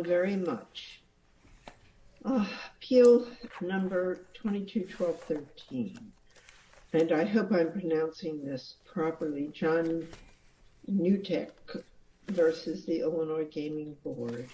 Very much. Appeal number 22-12-13. And I hope I'm pronouncing this properly. John Gnutek v. Illinois Gaming Board.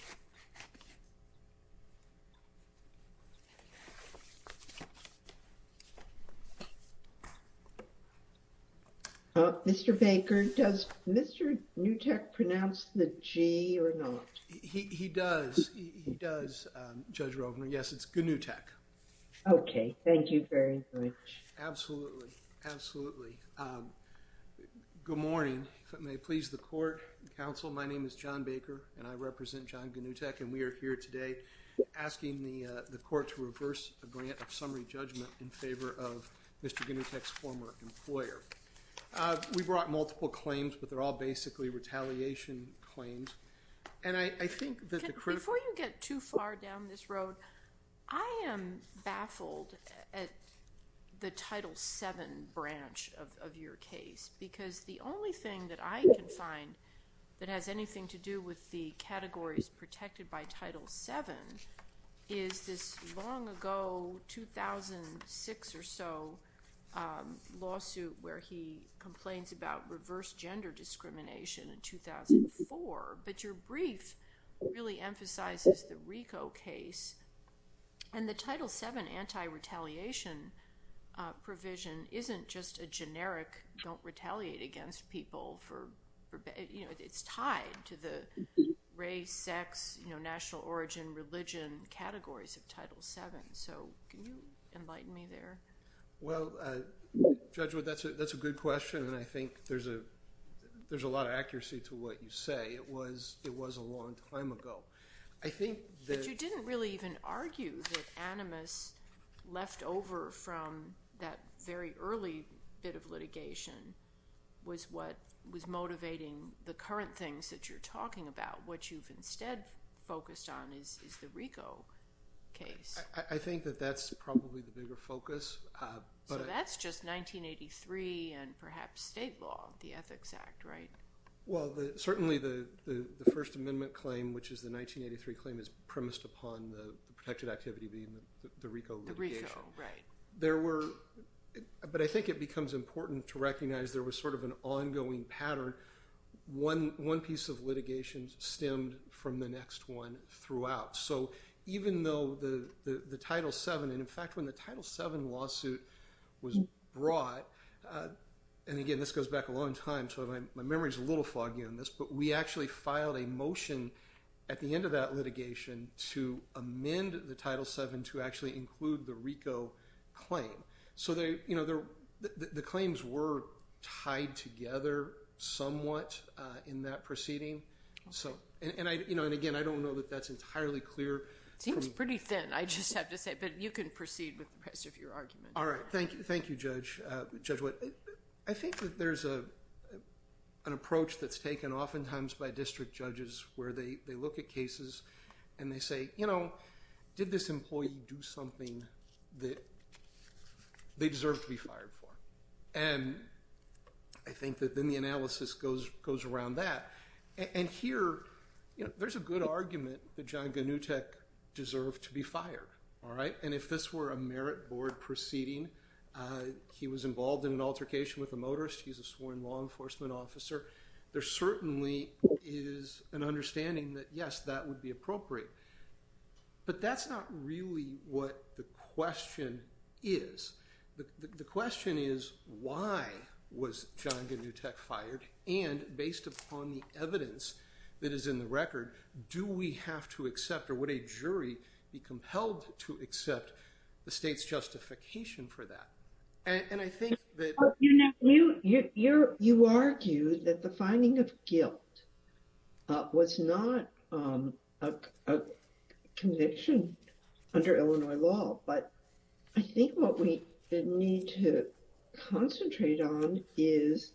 Mr. Baker, does Mr. Gnutek pronounce the G or not? He does. He does, Judge Rovner. Yes, it's Gnutek. Okay. Thank you very much. Absolutely. Absolutely. Good morning. If it may please the court, counsel, my name is John Baker and I represent John Gnutek and we are here today asking the court to reverse a grant of summary judgment in favor of Mr. Gnutek's former employer. We brought multiple claims, but they're all basically retaliation claims. And I think that the critical... Before you get too far down this road, I am baffled at the Title VII branch of that has anything to do with the categories protected by Title VII, is this long ago 2006 or so lawsuit where he complains about reverse gender discrimination in 2004. But your brief really emphasizes the RICO case. And the Title VII anti-retaliation provision isn't just a generic don't retaliate against people for... It's tied to the race, sex, national origin, religion categories of Title VII. So can you enlighten me there? Well, Judge, that's a good question. And I think there's a lot of accuracy to what you say. It was a long time ago. I think that- was what was motivating the current things that you're talking about. What you've instead focused on is the RICO case. I think that that's probably the bigger focus. So that's just 1983 and perhaps state law, the Ethics Act, right? Well, certainly the First Amendment claim, which is the 1983 claim is premised upon the protected activity being the RICO litigation. The RICO, right. But I think it becomes important to recognize there was sort of an ongoing pattern. One piece of litigation stemmed from the next one throughout. So even though the Title VII, and in fact, when the Title VII lawsuit was brought, and again, this goes back a long time. So my memory is a little foggy on this, but we actually filed a motion at the end of that litigation to amend the Title VII to actually include the RICO claim. So the claims were tied together somewhat in that proceeding. And again, I don't know that that's entirely clear. Seems pretty thin, I just have to say, but you can proceed with the rest of your argument. All right. Thank you, Judge White. I think that there's an approach that's taken oftentimes by and they say, you know, did this employee do something that they deserve to be fired for? And I think that then the analysis goes around that. And here, you know, there's a good argument that John Gnutek deserved to be fired. All right. And if this were a merit board proceeding, he was involved in an altercation with a motorist. He's a sworn law enforcement officer. There certainly is an understanding that, yes, that would be appropriate. But that's not really what the question is. The question is, why was John Gnutek fired? And based upon the evidence that is in the record, do we have to accept or would a jury be compelled to accept the state's justification for that? And I think that... You know, you argue that the finding of guilt was not a conviction under Illinois law, but I think what we need to concentrate on is,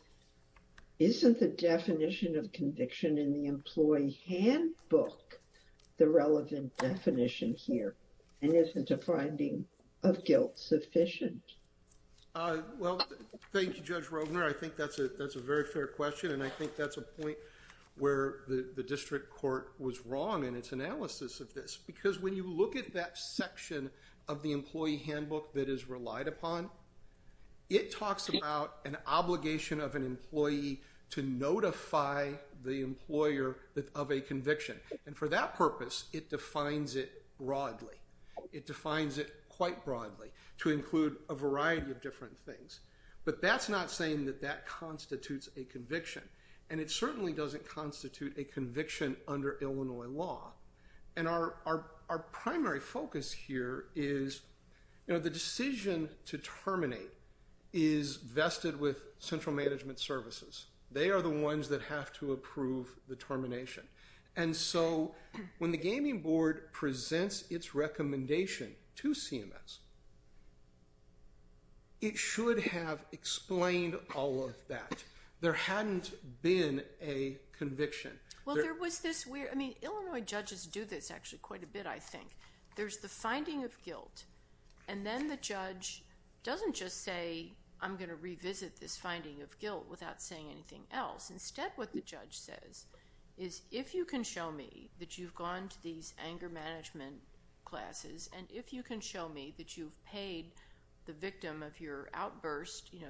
isn't the definition of conviction in the employee handbook the relevant definition here? And isn't a finding of guilt sufficient? Well, thank you, Judge Rogner. I think that's a very fair question. And I think that's a point where the district court was wrong in its analysis of this. Because when you look at that section of the employee handbook that is relied upon, it talks about an obligation of an employee to notify the employer of a conviction. And for that purpose, it defines it broadly. It defines it quite broadly to include a variety of different things. But that's not saying that that constitutes a conviction. And it certainly doesn't constitute a conviction under Illinois law. And our primary focus here is, you know, the decision to terminate is vested with central management services. They are the ones that have to approve the termination. And so when the gaming board presents its recommendation to CMS, it should have explained all of that. There hadn't been a conviction. Well, there was this weird, I mean, Illinois judges do this actually quite a bit, I think. There's the finding of guilt. And then the judge doesn't just say, I'm going to revisit this finding of guilt without saying anything else. Instead, what the judge says is, if you can show me that you've gone to these anger management classes, and if you can show me that you've paid the victim of your outburst, you know,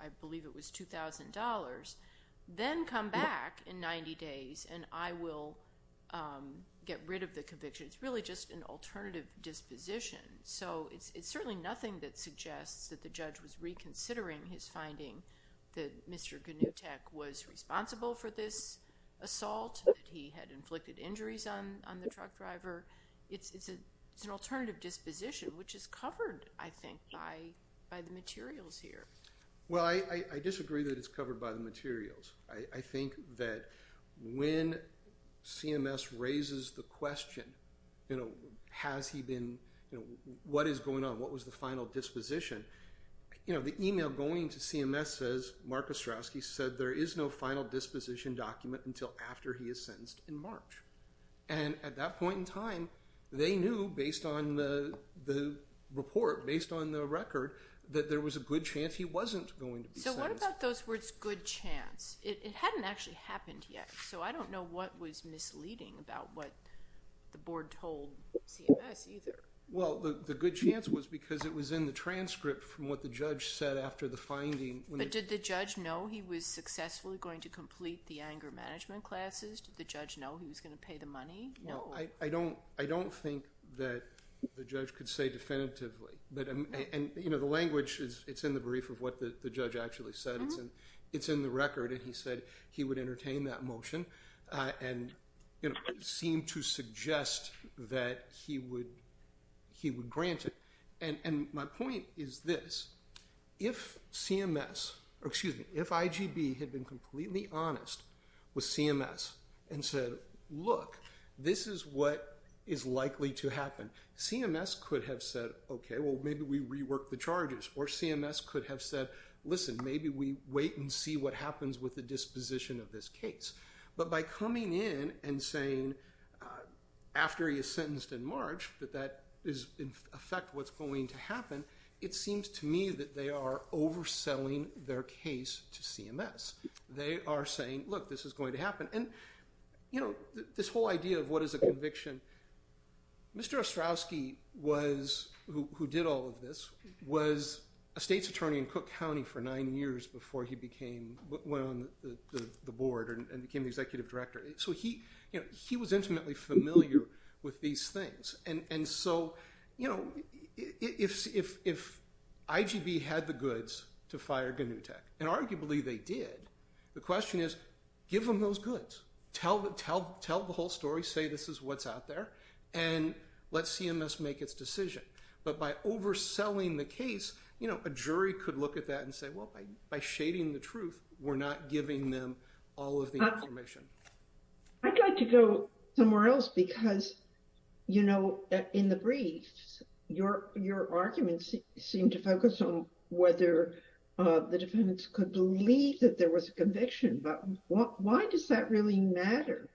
I believe it was $2,000, then come back in 90 days and I will get rid of the conviction. It's really just an alternative disposition. So it's certainly nothing that suggests that the judge was reconsidering his finding that Mr. Gnutek was responsible for this assault, that he had inflicted injuries on the truck driver. It's an alternative disposition, which is covered, I think, by the materials here. Well, I disagree that it's covered by the materials. I think that when CMS raises the question, you know, has he been, you know, what is going on? What was the final disposition? You know, the email going to CMS says, Mark Ostrowski said, there is no final disposition document until after he is sentenced in March. And at that point in time, they knew, based on the report, based on the record, that there was a good chance he wasn't going to be sentenced. So what about those words, good chance? It hadn't actually happened yet, so I don't know what was misleading about what the board told CMS either. Well, the good chance was because it was in the transcript from what the judge said after the finding. But did the judge know he was successfully going to complete the anger management classes? Did the judge know he was going to pay the money? No. I don't think that the judge could say definitively. And, you know, the language, it's in the brief of what the judge actually said. It's in the record, and he said he would grant it. And my point is this. If CMS, or excuse me, if IGB had been completely honest with CMS and said, look, this is what is likely to happen, CMS could have said, okay, well, maybe we rework the charges, or CMS could have said, listen, maybe we wait and see what happens with the disposition of this case. But by coming in and saying after he is sentenced in March that that is in effect what's going to happen, it seems to me that they are overselling their case to CMS. They are saying, look, this is going to happen. And, you know, this whole idea of what is a conviction, Mr. Ostrowski was, who did all of this, was a state's attorney in Cook County for nine years before he went on the board and became the executive director. So he was intimately familiar with these things. And so, you know, if IGB had the goods to fire Gnutek, and arguably they did, the question is, give them those goods. Tell the whole story, say this is what's out there, and let CMS make its decision. But by overselling the case, a jury could look at that and say, by shading the truth, we're not giving them all of the information. I'd like to go somewhere else because, you know, in the briefs, your arguments seem to focus on whether the defendants could believe that there was a conviction, but why does that really matter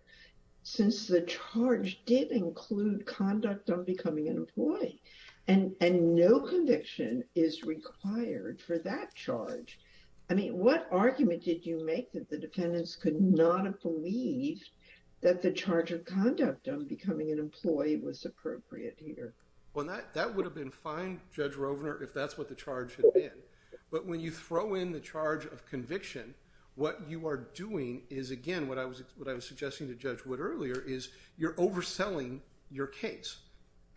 since the charge did include conduct on becoming an employee? And no conviction is required for that charge. I mean, what argument did you make that the defendants could not have believed that the charge of conduct on becoming an employee was appropriate here? Well, that would have been fine, Judge Rovner, if that's what the charge had been. But when you throw in the charge of conviction, what you are doing is, again, what I was suggesting to Judge Wood earlier, is you're overselling your case.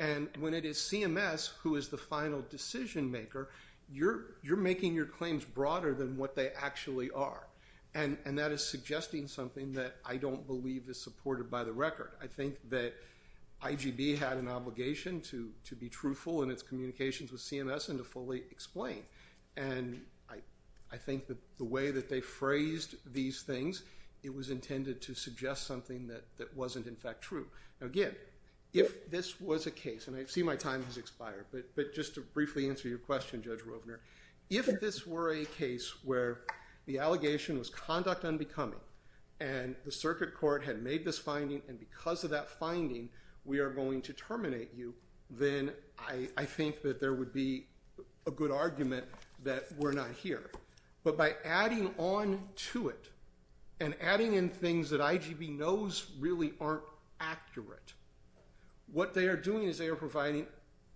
And when it is CMS who is the final decision-maker, you're making your claims broader than what they actually are. And that is suggesting something that I don't believe is supported by the record. I think that IGB had an obligation to be truthful in its communications with CMS and to fully explain. And I think that the way that they phrased these things, it was intended to suggest something that wasn't, in fact, true. Now, again, if this was a case, and I see my time has expired, but just to briefly answer your question, Judge Rovner, if this were a case where the allegation was conduct on becoming, and the circuit court had made this finding, and because of that finding, we are going to terminate you, then I think that there would be a good argument that we're not here. But by adding on to it and adding in things that IGB knows really aren't accurate, what they are doing is they are providing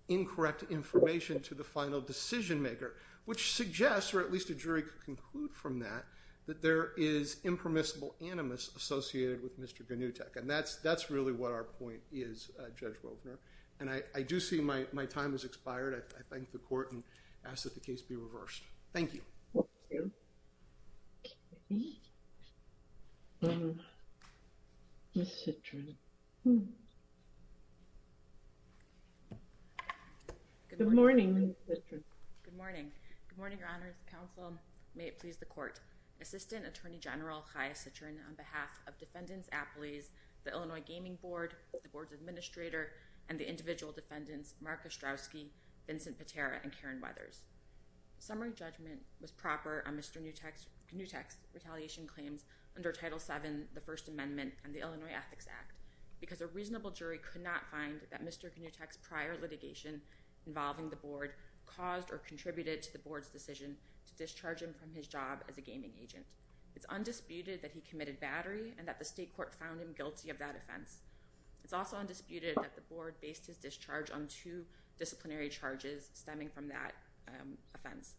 incorrect information to the final decision-maker, which suggests, or at least a jury could conclude from that, that there is impermissible animus associated with Mr. Ganutek. And that's really what our point is, Judge Rovner. And I do see my time has expired. I thank the committee. Ms. Citrin. Good morning, Ms. Citrin. Good morning. Good morning, Your Honors, counsel. May it please the court. Assistant Attorney General Chaya Citrin, on behalf of Defendants Appellees, the Illinois Gaming Board, the Board's Administrator, and the individual defendants, Mark Ostrowski, Vincent Patera, and Karen Weathers. Summary judgment was proper on Mr. Ganutek's retaliation claims under Title VII, the First Amendment, and the Illinois Ethics Act because a reasonable jury could not find that Mr. Ganutek's prior litigation involving the Board caused or contributed to the Board's decision to discharge him from his job as a gaming agent. It's undisputed that he committed battery and that the state court found him guilty of that offense. It's also undisputed that the Board based his discharge on two disciplinary charges stemming from that offense.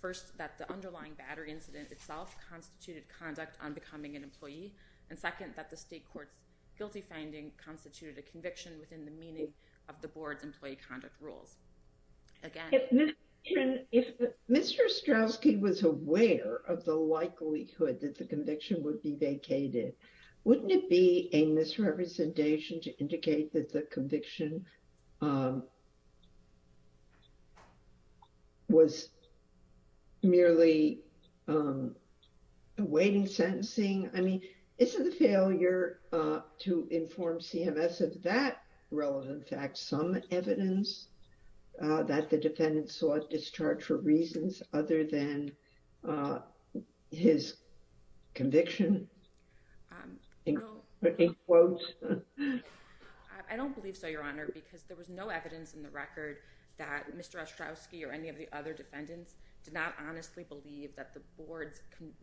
First, that the underlying battery incident itself constituted conduct on becoming an employee, and second, that the state court's guilty finding constituted a conviction within the meaning of the Board's employee conduct rules. Again... Mr. Ostrowski was aware of the likelihood that the conviction would be vacated. Wouldn't it be a misrepresentation to indicate that the conviction was merely awaiting sentencing? I mean, isn't the failure to inform CMS of that relevant fact some evidence that the defendant sought discharge for reasons other than his conviction? I don't believe so, Your Honor, because there was no evidence in the record that Mr. Ostrowski or any of the other defendants did not honestly believe that the Board's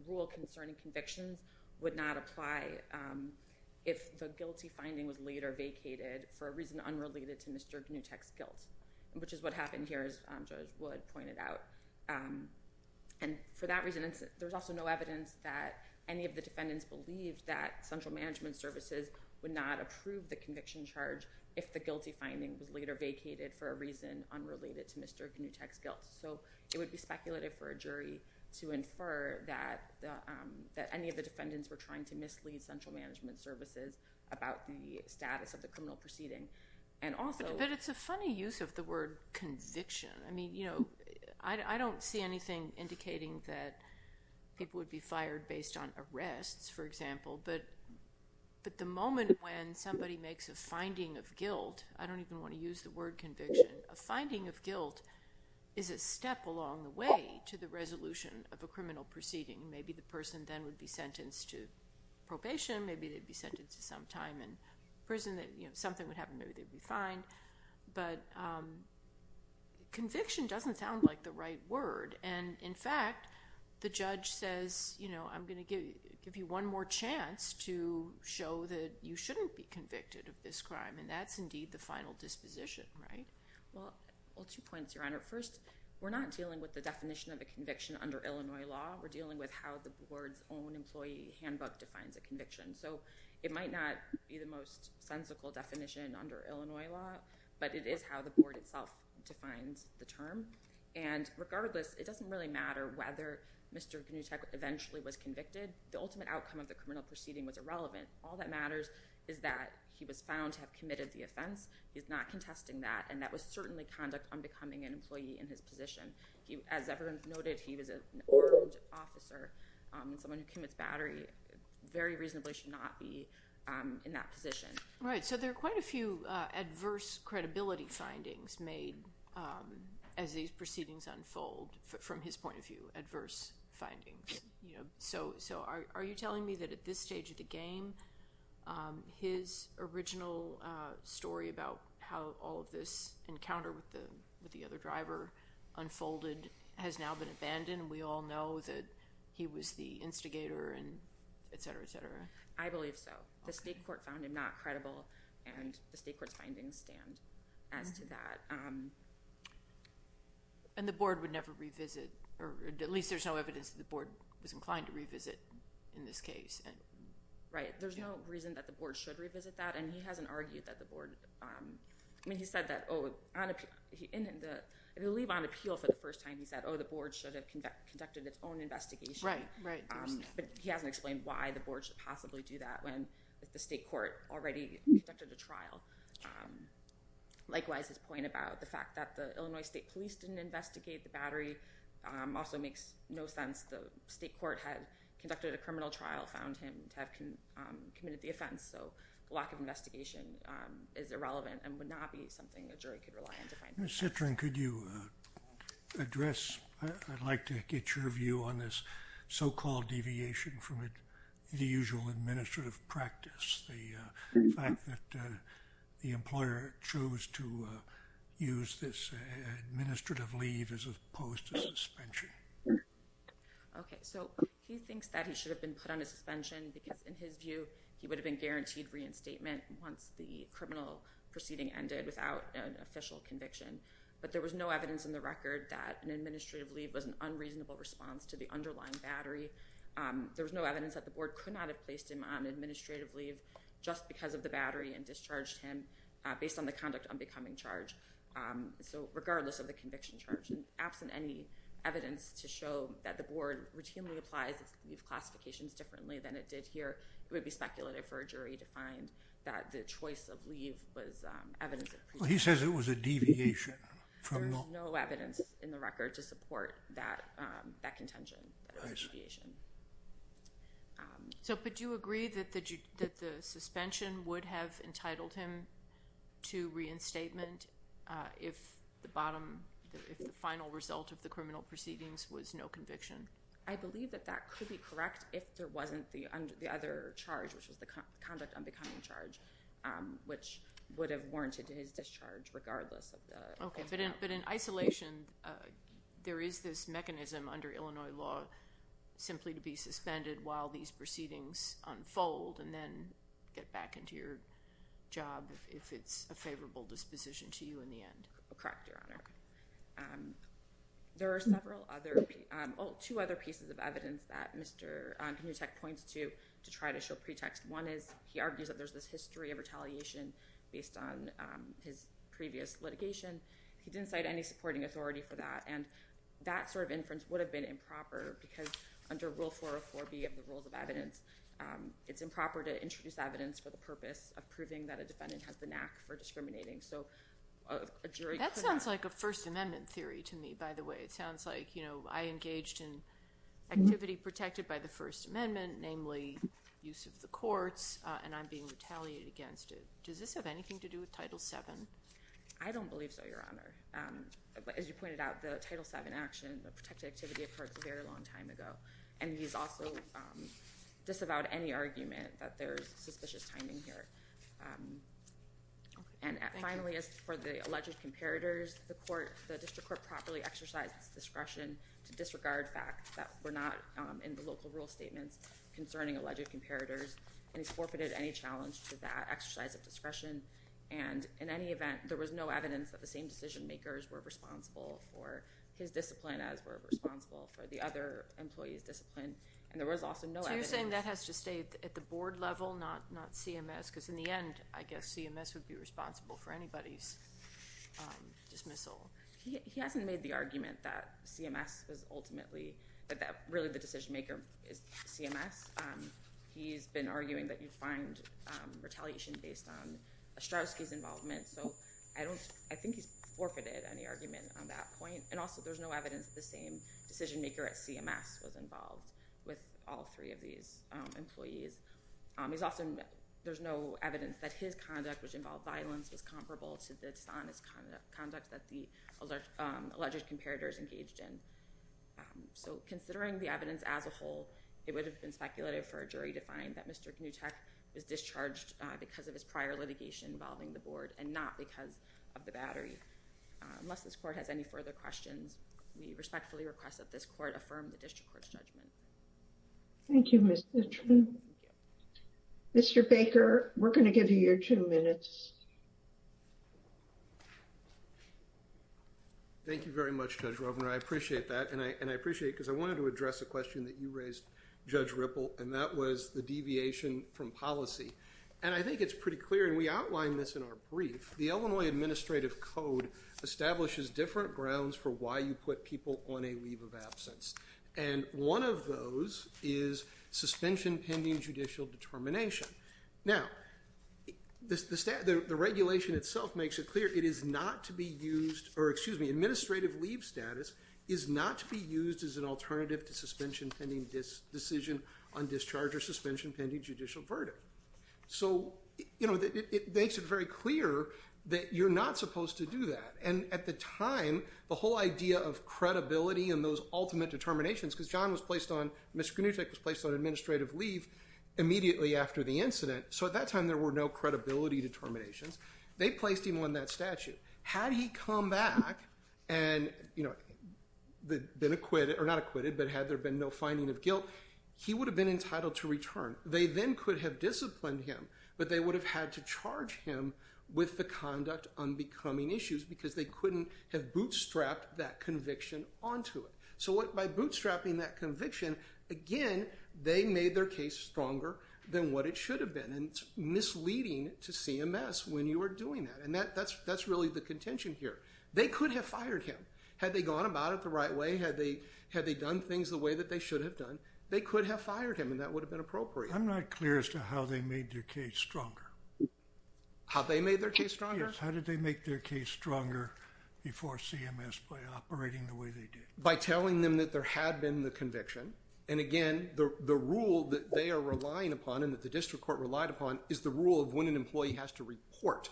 rule concerning convictions would not apply if the guilty finding was later vacated for a reason unrelated to Mr. Ganutek's guilt, which is what happened here, as Judge Wood pointed out. And for that reason, there was also no evidence that any of the defendants believed that central management services would not approve the conviction charge if the guilty finding was later vacated for a reason unrelated to Mr. Ganutek's guilt. So it would be speculative for a jury to infer that any of the defendants were trying to mislead central management services about the status of the criminal proceeding. But it's a funny use of the word conviction. I mean, you know, I don't see anything indicating that people would be fired based on arrests, for example, but the moment when somebody makes a finding of guilt, I don't even want to use the word conviction, a finding of guilt is a step along the way to the resolution of a criminal proceeding. Maybe the person then would be sentenced to probation, maybe they'd be sentenced to some time in prison, you know, something would happen, maybe they'd be fined. But conviction doesn't sound like the right word. And in fact, the judge says, you know, I'm going to give you one more chance to show that you shouldn't be convicted of this crime, and that's indeed the final disposition, right? Well, two points, Your Honor. First, we're not dealing with the definition of a conviction under Illinois law. We're dealing with how the board's own employee handbook defines a conviction. So it might not be the most sensical definition under Illinois law, but it is how the board itself defines the term. And regardless, it doesn't really matter whether Mr. Knutek eventually was convicted. The ultimate outcome of the criminal proceeding was irrelevant. All that matters is that he was found to have committed the offense. He's not contesting that, and that was certainly conduct on becoming an employee in his position. As everyone's noted, he was an armed officer, someone who commits battery, very reasonably should not be in that position. Right. So there are quite a few adverse credibility findings made as these proceedings unfold from his point of view, adverse findings. So are you telling me that at this stage of the game, his original story about how all of this encounter with the other driver unfolded has now been abandoned? We all know that he was the victim, et cetera, et cetera. I believe so. The state court found him not credible, and the state court's findings stand as to that. And the board would never revisit, or at least there's no evidence that the board was inclined to revisit in this case. Right. There's no reason that the board should revisit that. And he hasn't argued that the board, I mean, he said that, oh, I believe on appeal for the first time he said, oh, the board should have conducted its own investigation. Right, right. But he hasn't explained why the board should possibly do that when the state court already conducted a trial. Likewise, his point about the fact that the Illinois State Police didn't investigate the battery also makes no sense. The state court had conducted a criminal trial, found him to have committed the offense. So lack of investigation is irrelevant and would not be something a jury could rely on to find fault with. Ms. Citrin, could you address, I'd like to get your view on this so-called deviation from the usual administrative practice, the fact that the employer chose to use this administrative leave as opposed to suspension. Okay. So he thinks that he should have been put on a suspension because in his view, he would have been guaranteed reinstatement once the criminal proceeding ended without an official conviction. But there was no evidence in the record that an administrative leave was an unreasonable response to the underlying battery. There was no evidence that the board could not have placed him on administrative leave just because of the battery and discharged him based on the conduct on becoming charged. So regardless of the conviction charge and absent any evidence to show that the board routinely applies its leave classifications differently than it did here, it would be speculative for a jury to find that the choice of leave was evidence. Well, he says it was a deviation. There was no evidence in the record to support that contention, that deviation. So, but do you agree that the suspension would have entitled him to reinstatement if the bottom, if the final result of the criminal proceedings was no conviction? I believe that that could be correct if there wasn't the other charge, which was the conduct on becoming charged, which would have warranted his discharge regardless of the... Okay, but in isolation, there is this mechanism under Illinois law simply to be suspended while these proceedings unfold and then get back into your job if it's a favorable disposition to you in the end. Correct, Your Honor. There are several other, oh, two other pieces of evidence that Mr. Hickman could have used as a factual pretext. One is he argues that there's this history of retaliation based on his previous litigation. He didn't cite any supporting authority for that, and that sort of inference would have been improper because under Rule 404B of the Rules of Evidence, it's improper to introduce evidence for the purpose of proving that a defendant has the knack for discriminating. So a jury... That sounds like a First Amendment theory to me, by the way. It sounds like, you know, I engaged in activity protected by the First Amendment, namely use of the courts, and I'm being retaliated against it. Does this have anything to do with Title VII? I don't believe so, Your Honor. As you pointed out, the Title VII action, the protected activity, occurred a very long time ago, and he's also disavowed any argument that there's suspicious timing here. And finally, as for the alleged comparators, the District Court properly exercised its discretion to disregard facts that were not in the local rule statements concerning alleged comparators, and he's forfeited any challenge to that exercise of discretion, and in any event, there was no evidence that the same decision makers were responsible for his discipline as were responsible for the other employees' discipline, and there was also no... So you're saying that has to stay at the board level, not CMS, because in the end, I guess CMS would be responsible for anybody's dismissal. He hasn't made the argument that CMS was ultimately... that really the decision maker is CMS. He's been arguing that you find retaliation based on Ostrowski's involvement, so I don't... I think he's forfeited any argument on that point, and also there's no evidence the same decision maker at CMS was involved with all three of these employees. He's also... there's no evidence that his conduct, which involved violence, was comparable to the dishonest conduct that the alleged comparators engaged in. So considering the evidence as a whole, it would have been speculative for a jury to find that Mr. Gnutek was discharged because of his prior litigation involving the board and not because of the battery. Unless this court has any further questions, we respectfully request that this court affirm the District Court's judgment. Thank you, Mr. Truman. Mr. Baker, we're going to give you your two minutes. Thank you very much, Judge Rovner. I appreciate that, and I appreciate it because I wanted to address a question that you raised, Judge Ripple, and that was the deviation from policy. And I think it's pretty clear, and we outlined this in our brief, the Illinois Administrative Code establishes grounds for why you put people on a leave of absence. And one of those is suspension-pending judicial determination. Now, the regulation itself makes it clear it is not to be used, or excuse me, administrative leave status is not to be used as an alternative to suspension-pending decision on discharge or suspension-pending judicial verdict. So, you know, it makes it very clear that you're not supposed to do that. And at the time, the whole idea of credibility and those ultimate determinations, because John was placed on, Mr. Knutek was placed on administrative leave immediately after the incident, so at that time there were no credibility determinations. They placed him on that statute. Had he come back and, you know, been acquitted, or not acquitted, but had there been no finding of guilt, he would have been entitled to return. They then could have disciplined him, but they would have had to charge him with the conduct unbecoming issues because they couldn't have bootstrapped that conviction onto it. So by bootstrapping that conviction, again, they made their case stronger than what it should have been, and it's misleading to CMS when you are doing that. And that's really the contention here. They could have fired him. Had they gone about it the right way, had they done things the way that they should have done, they could have fired him and that would have been appropriate. I'm not clear as to how they made their case stronger. How they made their case stronger? Yes, how did they make their case stronger before CMS by operating the way they did? By telling them that there had been the conviction, and again, the rule that they are relying upon and that the district court relied upon is the rule of when an employee has to report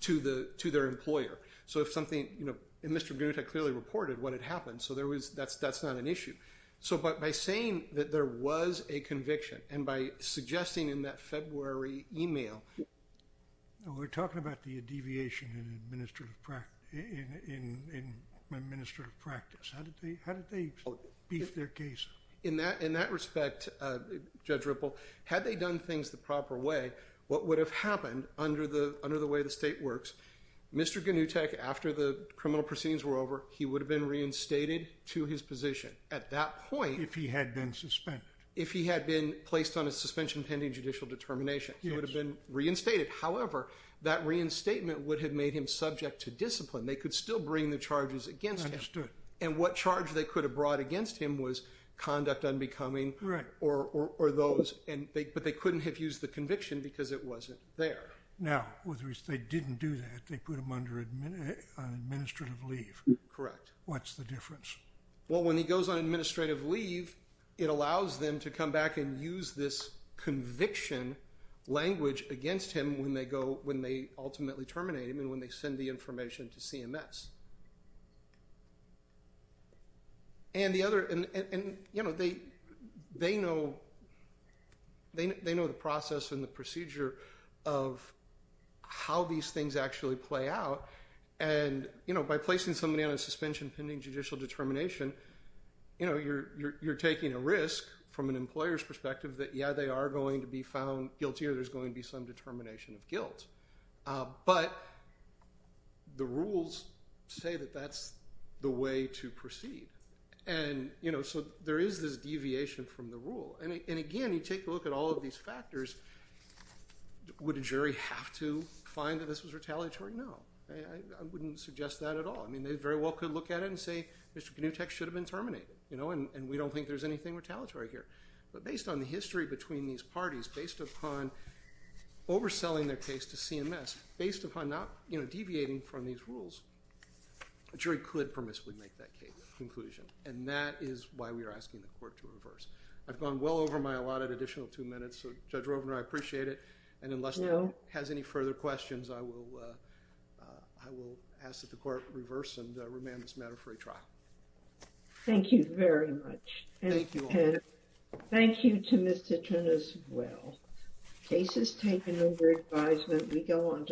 to their employer. So if something, you know, and Mr. Knutek clearly reported what had happened, so that's not an issue. So by saying that there was a conviction and by suggesting in that February email... We're talking about the deviation in administrative practice. How did they beef their case? In that respect, Judge Ripple, had they done things the proper way, what would have happened under the way the state works, Mr. Knutek, after the criminal proceedings were over, he would have been reinstated to his position at that point. If he had been suspended. If he had been placed on a suspension pending judicial determination, he would have been reinstated. However, that reinstatement would have made him subject to discipline. They could still bring the charges against him. Understood. And what charge they could have brought against him was conduct unbecoming or those, but they couldn't have used the conviction because it wasn't there. Now, they didn't do that. They put him under administrative leave. Correct. What's the difference? Well, when he goes on administrative leave, it allows them to come back and use this conviction language against him when they go, when they ultimately terminate him and when they send the information to CMS. And the other, and you know, they know, they know the process and procedure of how these things actually play out. And, you know, by placing somebody on a suspension pending judicial determination, you know, you're, you're, you're taking a risk from an employer's perspective that, yeah, they are going to be found guilty or there's going to be some determination of guilt. But the rules say that that's the way to proceed. And, you know, so there is this deviation from the rule. And again, you take a look at all of these factors. Would a jury have to find that this was retaliatory? No, I wouldn't suggest that at all. I mean, they very well could look at it and say, Mr. Knutek should have been terminated, you know, and we don't think there's anything retaliatory here. But based on the history between these parties, based upon overselling their case to CMS, based upon not, you know, deviating from these rules, a jury could permissibly make that conclusion. And that is why we are asking the court to reverse. I've gone well over my allotted additional two minutes, so Judge Rovner, I appreciate it. And unless the court has any further questions, I will, I will ask that the court reverse and remand this matter for a trial. Thank you very much. And thank you to Mr. Tunis as well. Cases taken over advisement, we go on to